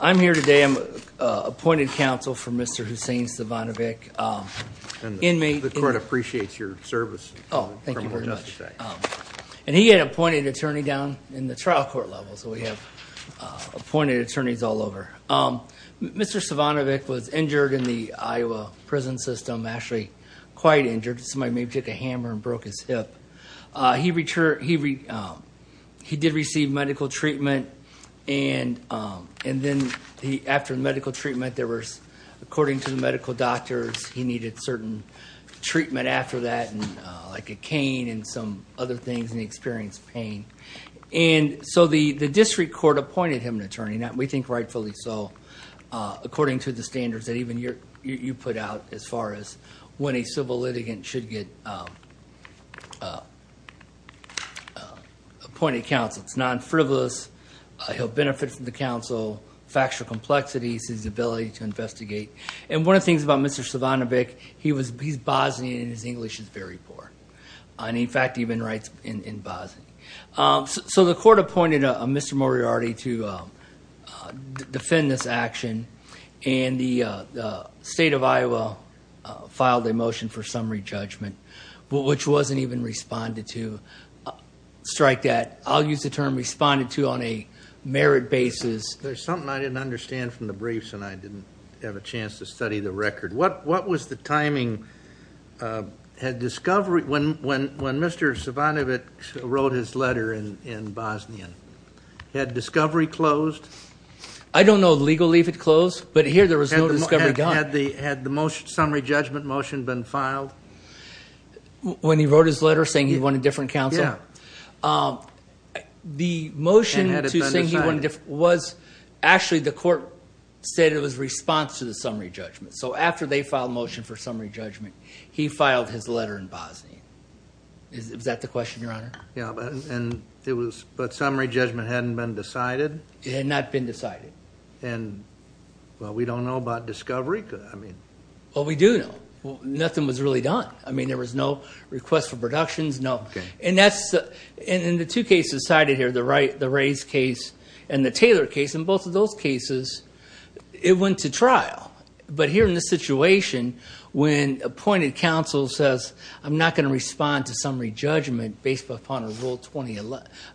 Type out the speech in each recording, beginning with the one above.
I'm here today. I'm appointed counsel for Mr. Husein Cejvanovic. And the court appreciates your service. Oh, thank you very much. And he had appointed attorney down in the trial court level, so we have appointed attorneys all over. Mr. Cejvanovic was injured in the Iowa prison system, actually quite injured. Somebody maybe took a hammer and broke his hip. He did receive medical treatment, and then after the medical treatment, according to the medical doctors, he needed certain treatment after that, like a cane and some other things, and he experienced pain. And so the district court appointed him an attorney, and we think rightfully so, according to the standards that even you put out as far as when a civil litigant should get appointed counsel. It's non-frivolous. He'll benefit from the counsel, factual complexities, his ability to investigate. And one of the things about Mr. Cejvanovic, he's Bosnian, and his English is very poor. And, in fact, he even writes in Bosnian. So the court appointed Mr. Moriarty to defend this action, and the state of Iowa filed a motion for summary judgment, which wasn't even responded to, strike that. I'll use the term responded to on a merit basis. There's something I didn't understand from the briefs, and I didn't have a chance to study the record. What was the timing? When Mr. Cejvanovic wrote his letter in Bosnian, had discovery closed? I don't know legally if it closed, but here there was no discovery done. Had the summary judgment motion been filed? When he wrote his letter saying he wanted different counsel? Yeah. The motion to say he wanted different was actually the court said it was response to the summary judgment. So after they filed a motion for summary judgment, he filed his letter in Bosnian. Is that the question, Your Honor? Yeah. But summary judgment hadn't been decided? It had not been decided. And, well, we don't know about discovery? Well, we do know. Nothing was really done. I mean, there was no request for productions, no. And in the two cases cited here, the Ray's case and the Taylor case, in both of those cases, it went to trial. But here in this situation, when appointed counsel says, I'm not going to respond to summary judgment based upon a Rule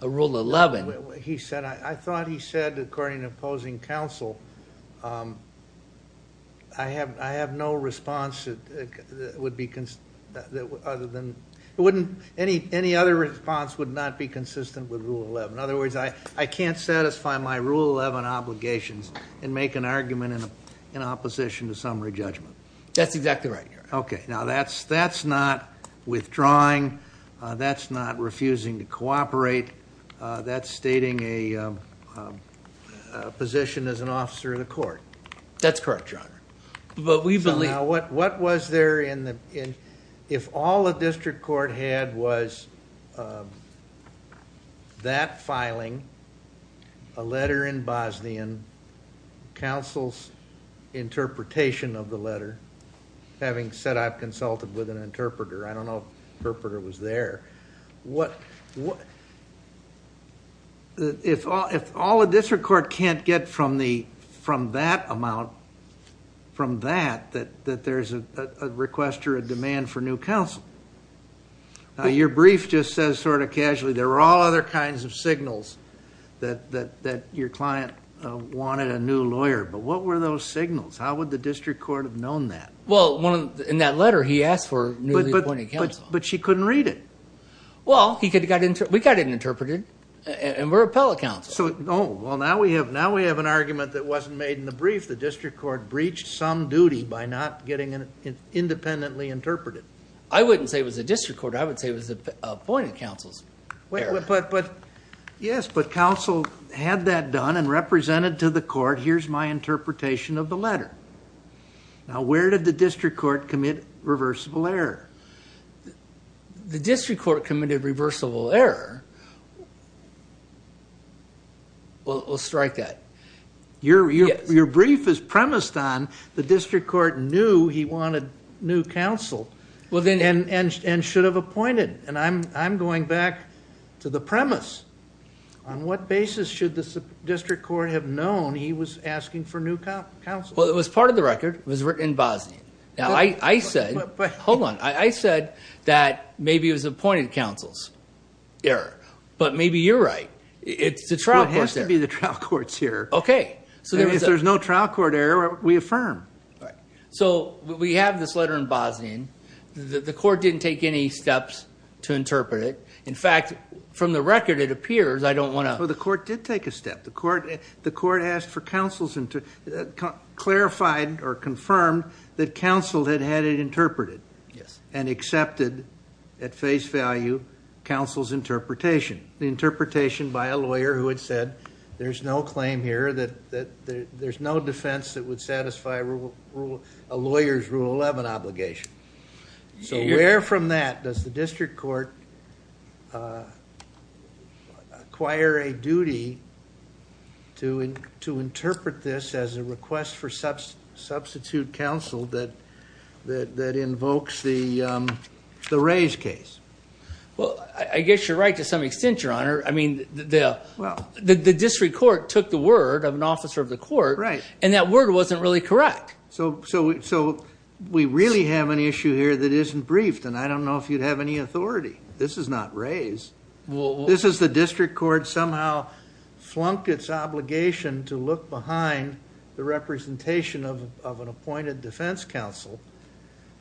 11. I thought he said, according to opposing counsel, I have no response that would be other than any other response would not be consistent with Rule 11. In other words, I can't satisfy my Rule 11 obligations and make an argument in opposition to summary judgment. That's exactly right, Your Honor. Okay. Now, that's not withdrawing. That's not refusing to cooperate. That's stating a position as an officer of the court. That's correct, Your Honor. Now, what was there in the, if all a district court had was that filing, a letter in Bosnian, counsel's interpretation of the letter, having said I've consulted with an interpreter. I don't know if the interpreter was there. If all a district court can't get from that amount, from that, that there's a request or a demand for new counsel. Your brief just says sort of casually, there were all other kinds of signals that your client wanted a new lawyer. But what were those signals? How would the district court have known that? Well, in that letter, he asked for newly appointed counsel. But she couldn't read it. Well, we got an interpreter and we're appellate counsel. Oh, well, now we have an argument that wasn't made in the brief. The district court breached some duty by not getting independently interpreted. I wouldn't say it was a district court. I would say it was appointed counsel's error. Yes, but counsel had that done and represented to the court, here's my interpretation of the letter. Now, where did the district court commit reversible error? The district court committed reversible error. We'll strike that. Your brief is premised on the district court knew he wanted new counsel and should have appointed. And I'm going back to the premise. On what basis should the district court have known he was asking for new counsel? Well, it was part of the record. It was written in Bosnian. Now, I said, hold on. I said that maybe it was appointed counsel's error. But maybe you're right. It's the trial court's error. It has to be the trial court's error. Okay. If there's no trial court error, we affirm. So we have this letter in Bosnian. The court didn't take any steps to interpret it. In fact, from the record, it appears I don't want to. Well, the court did take a step. The court asked for counsel's, clarified or confirmed that counsel had had it interpreted. Yes. And accepted at face value counsel's interpretation. The interpretation by a lawyer who had said there's no claim here, that there's no defense that would satisfy a lawyer's Rule 11 obligation. So where from that does the district court acquire a duty to interpret this as a request for substitute counsel that invokes the Rays case? Well, I guess you're right to some extent, Your Honor. I mean, the district court took the word of an officer of the court. Right. And that word wasn't really correct. So we really have an issue here that isn't briefed, and I don't know if you'd have any authority. This is not Rays. This is the district court somehow flunked its obligation to look behind the representation of an appointed defense counsel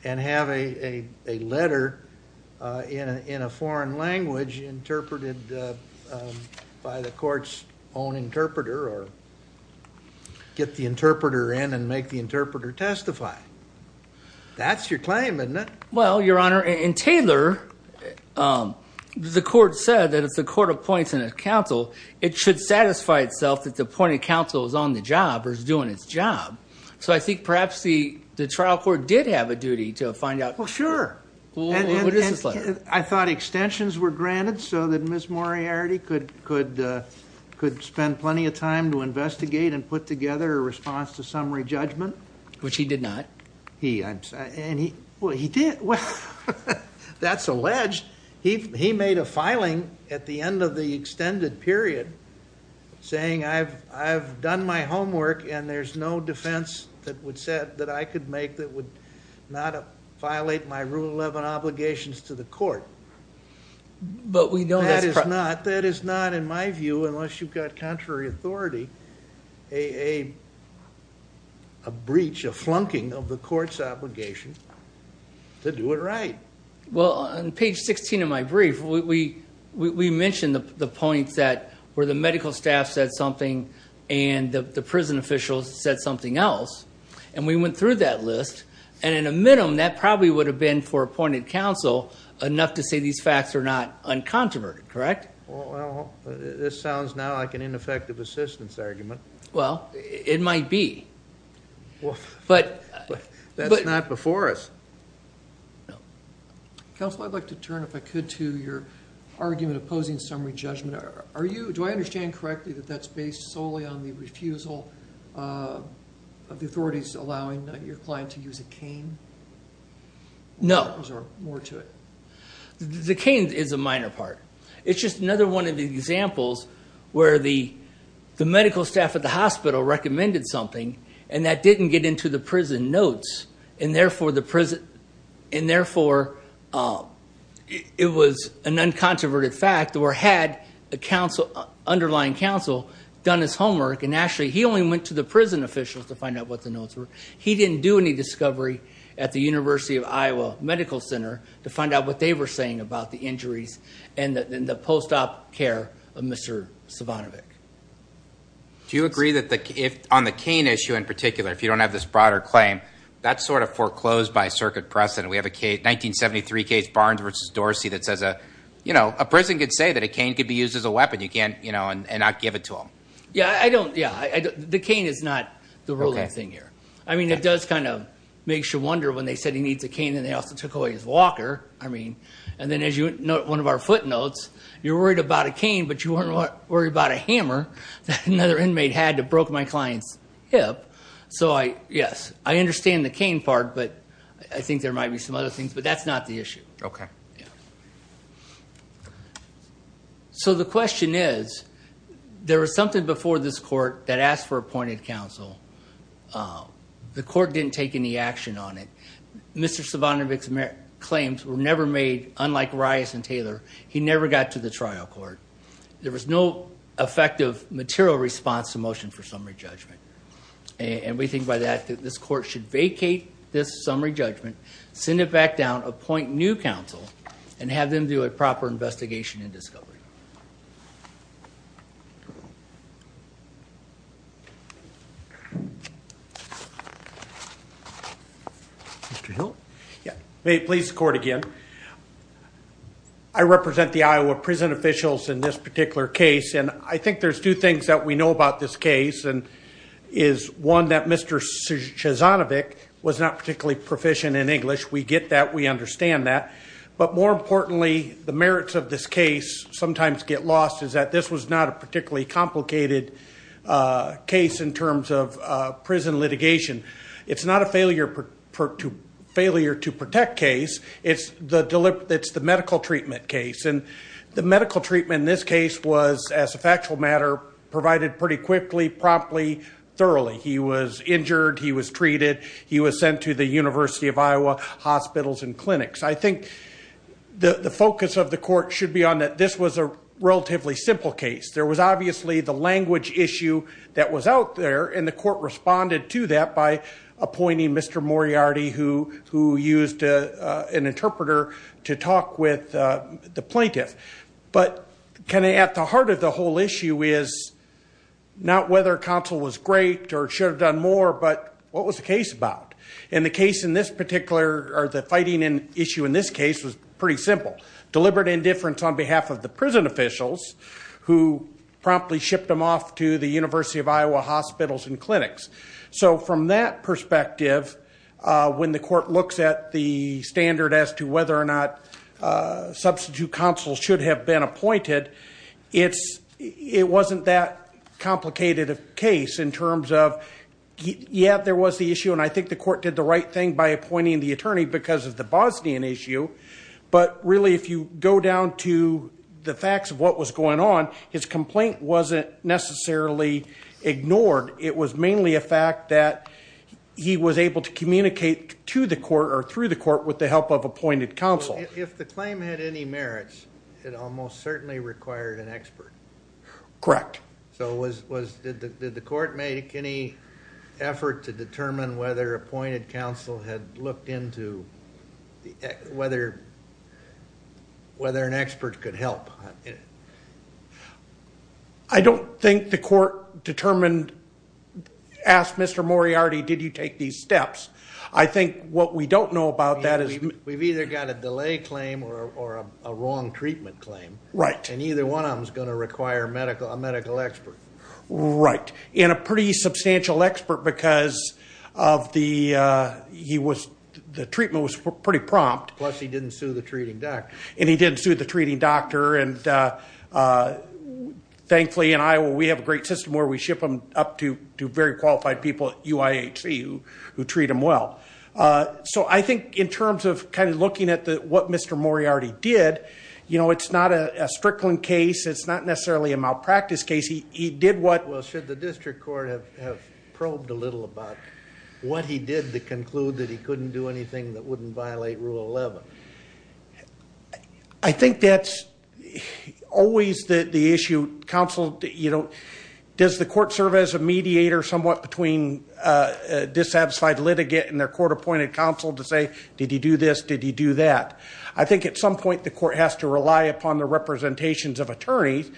and have a letter in a foreign language interpreted by the court's own interpreter or get the interpreter in and make the interpreter testify. That's your claim, isn't it? Well, Your Honor, in Taylor, the court said that if the court appoints a counsel, it should satisfy itself that the appointed counsel is on the job or is doing its job. So I think perhaps the trial court did have a duty to find out. Well, sure. What is this letter? I thought extensions were granted so that Ms. Moriarty could spend plenty of time to investigate and put together a response to summary judgment. Which he did not. Well, he did. That's alleged. He made a filing at the end of the extended period saying I've done my homework and there's no defense that I could make that would not violate my Rule 11 obligations to the court. But we know that's not. That is not, in my view, unless you've got contrary authority, a breach, a flunking of the court's obligation to do it right. Well, on page 16 of my brief, we mentioned the points that where the medical staff said something and the prison officials said something else, and we went through that list, and in a minimum that probably would have been for appointed counsel enough to say these facts are not uncontroverted. Correct? Well, this sounds now like an ineffective assistance argument. Well, it might be. That's not before us. Counsel, I'd like to turn, if I could, to your argument opposing summary judgment. Do I understand correctly that that's based solely on the refusal of the authorities allowing your client to use a cane? No. There's more to it. The cane is a minor part. It's just another one of the examples where the medical staff at the hospital recommended something, and that didn't get into the prison notes, and therefore it was an uncontroverted fact, or had the underlying counsel done his homework, and actually he only went to the prison officials to find out what the notes were. He didn't do any discovery at the University of Iowa Medical Center to find out what they were saying about the injuries and the post-op care of Mr. Savanovich. Do you agree that on the cane issue in particular, if you don't have this broader claim, that's sort of foreclosed by circuit precedent? We have a 1973 case, Barnes v. Dorsey, that says a prison can say that a cane can be used as a weapon and not give it to them. Yeah, I don't. The cane is not the ruling thing here. I mean, it does kind of make you wonder when they said he needs a cane, and they also took away his walker. I mean, and then as you note, one of our footnotes, you're worried about a cane, but you weren't worried about a hammer that another inmate had that broke my client's hip. So, yes, I understand the cane part, but I think there might be some other things, but that's not the issue. Okay. All right. So the question is, there was something before this court that asked for appointed counsel. The court didn't take any action on it. Mr. Savanovich's claims were never made, unlike Reyes and Taylor. He never got to the trial court. There was no effective material response to motion for summary judgment, and we think by that that this court should vacate this summary judgment, send it back down, appoint new counsel, and have them do a proper investigation and discovery. Mr. Hill? May it please the court again. I represent the Iowa prison officials in this particular case, and I think there's two things that we know about this case, and is one that Mr. Savanovich was not particularly proficient in English. We get that. We understand that. But more importantly, the merits of this case sometimes get lost, is that this was not a particularly complicated case in terms of prison litigation. It's not a failure to protect case. It's the medical treatment case, and the medical treatment in this case was, as a factual matter, provided pretty quickly, promptly, thoroughly. He was injured. He was treated. He was sent to the University of Iowa hospitals and clinics. I think the focus of the court should be on that this was a relatively simple case. There was obviously the language issue that was out there, and the court responded to that by appointing Mr. Moriarty, who used an interpreter to talk with the plaintiff. But kind of at the heart of the whole issue is not whether counsel was great or should have done more, but what was the case about? And the case in this particular, or the fighting issue in this case, was pretty simple. Deliberate indifference on behalf of the prison officials, who promptly shipped him off to the University of Iowa hospitals and clinics. So from that perspective, when the court looks at the standard as to whether or not substitute counsel should have been appointed, it wasn't that complicated a case in terms of, yeah, there was the issue, and I think the court did the right thing by appointing the attorney because of the Bosnian issue, but really if you go down to the facts of what was going on, his complaint wasn't necessarily ignored. It was mainly a fact that he was able to communicate to the court or through the court with the help of appointed counsel. If the claim had any merits, it almost certainly required an expert. Correct. So did the court make any effort to determine whether appointed counsel had looked into whether an expert could help? I don't think the court determined, asked Mr. Moriarty, did you take these steps? I think what we don't know about that is we've either got a delay claim or a wrong treatment claim. Right. And either one of them is going to require a medical expert. Right, and a pretty substantial expert because the treatment was pretty prompt. Plus he didn't sue the treating doctor. And he didn't sue the treating doctor, and thankfully in Iowa we have a great system where we ship them up to very qualified people at UIHC who treat them well. So I think in terms of kind of looking at what Mr. Moriarty did, you know, it's not a strickling case. It's not necessarily a malpractice case. He did what? Well, should the district court have probed a little about what he did to conclude that he couldn't do anything that wouldn't violate Rule 11? I think that's always the issue. Does the court serve as a mediator somewhat between a dissatisfied litigant and their court-appointed counsel to say, did he do this, did he do that? I think at some point the court has to rely upon the representations of attorneys.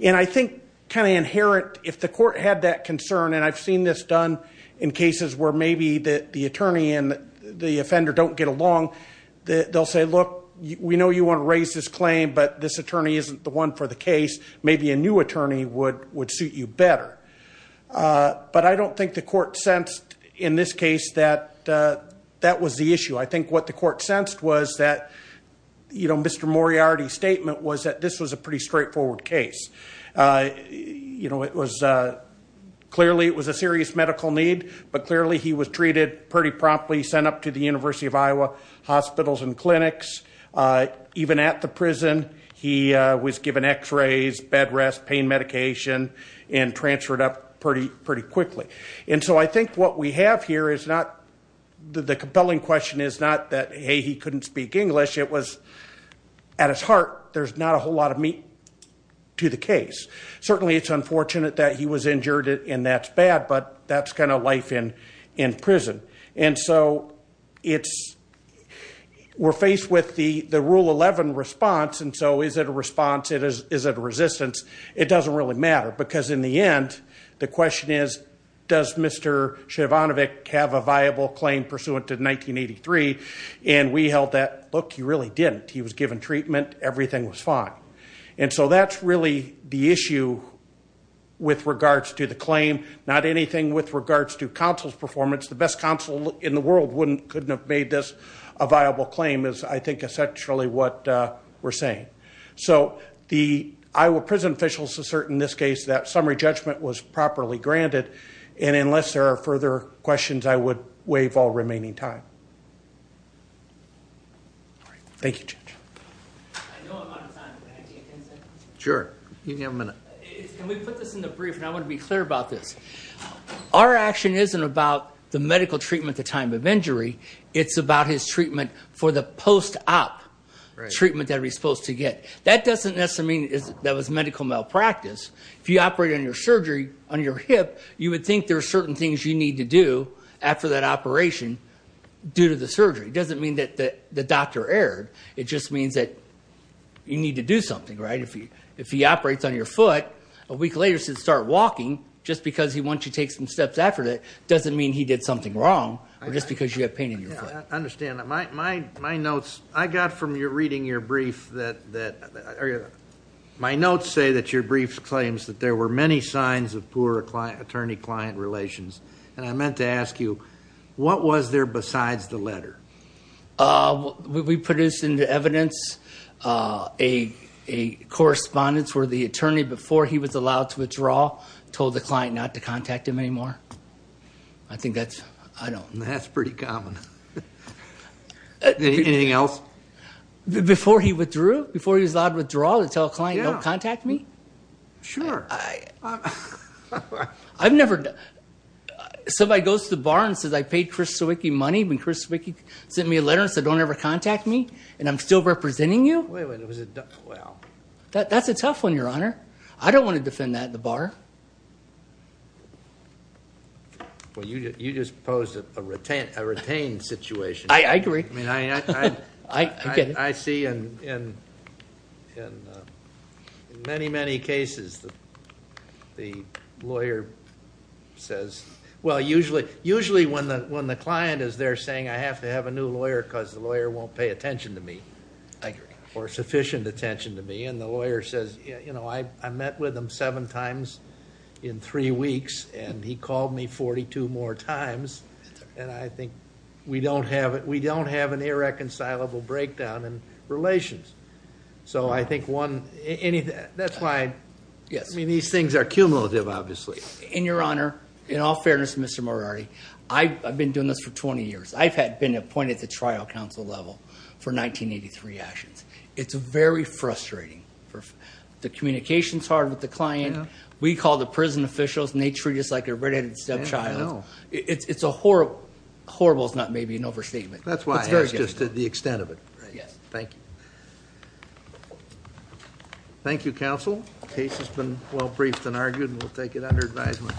And I think kind of inherent, if the court had that concern, and I've seen this done in cases where maybe the attorney and the offender don't get along, they'll say, look, we know you want to raise this claim, but this attorney isn't the one for the case. Maybe a new attorney would suit you better. But I don't think the court sensed in this case that that was the issue. I think what the court sensed was that, you know, Mr. Moriarty's statement was that this was a pretty straightforward case. You know, clearly it was a serious medical need, but clearly he was treated pretty promptly, sent up to the University of Iowa hospitals and clinics. Even at the prison he was given x-rays, bed rest, pain medication, and transferred up pretty quickly. And so I think what we have here is not the compelling question is not that, hey, he couldn't speak English. It was at his heart there's not a whole lot of meat to the case. Certainly it's unfortunate that he was injured and that's bad, but that's kind of life in prison. And so we're faced with the Rule 11 response, and so is it a response? Is it a resistance? It doesn't really matter because in the end the question is, does Mr. Shevanovic have a viable claim pursuant to 1983? And we held that, look, he really didn't. He was given treatment. Everything was fine. And so that's really the issue with regards to the claim, not anything with regards to counsel's performance. The best counsel in the world couldn't have made this a viable claim is, I think, essentially what we're saying. So the Iowa prison officials assert in this case that summary judgment was properly granted, and unless there are further questions I would waive all remaining time. Thank you, Judge. I know I'm out of time. Can I take 10 seconds? Sure. You can have a minute. Can we put this in the brief, and I want to be clear about this. Our action isn't about the medical treatment at the time of injury. It's about his treatment for the post-op treatment that he was supposed to get. That doesn't necessarily mean that was medical malpractice. If you operate on your hip, you would think there are certain things you need to do after that operation due to the surgery. It doesn't mean that the doctor erred. It just means that you need to do something, right? If he operates on your foot, a week later he should start walking just because he wants you to take some steps after that. It doesn't mean he did something wrong or just because you have pain in your foot. I understand that. My notes, I got from reading your brief that my notes say that your brief claims that there were many signs of poor attorney-client relations, and I meant to ask you, what was there besides the letter? We produced into evidence a correspondence where the attorney, before he was allowed to withdraw, told the client not to contact him anymore. I think that's, I don't know. That's pretty common. Anything else? Before he withdrew? Before he was allowed to withdraw to tell a client don't contact me? Sure. I've never, somebody goes to the bar and says I paid Chris Sawicki money when Chris Sawicki sent me a letter and said don't ever contact me, and I'm still representing you? Wait a minute. That's a tough one, Your Honor. I don't want to defend that in the bar. Well, you just posed a retained situation. I agree. I see in many, many cases the lawyer says, well, usually when the client is there saying I have to have a new lawyer because the lawyer won't pay attention to me. I agree. Or sufficient attention to me, and the lawyer says, you know, I met with him seven times in three weeks, and he called me 42 more times, and I think we don't have an irreconcilable breakdown in relations. So I think one, that's why, I mean, these things are cumulative, obviously. And, Your Honor, in all fairness to Mr. Moriarty, I've been doing this for 20 years. I've been appointed to trial counsel level for 1983 actions. It's very frustrating. The communication is hard with the client. We call the prison officials, and they treat us like a red-headed stepchild. I know. It's horrible. Horrible is maybe an overstatement. That's why I asked just the extent of it. Thank you. Thank you, counsel. The case has been well briefed and argued, and we'll take it under advisement.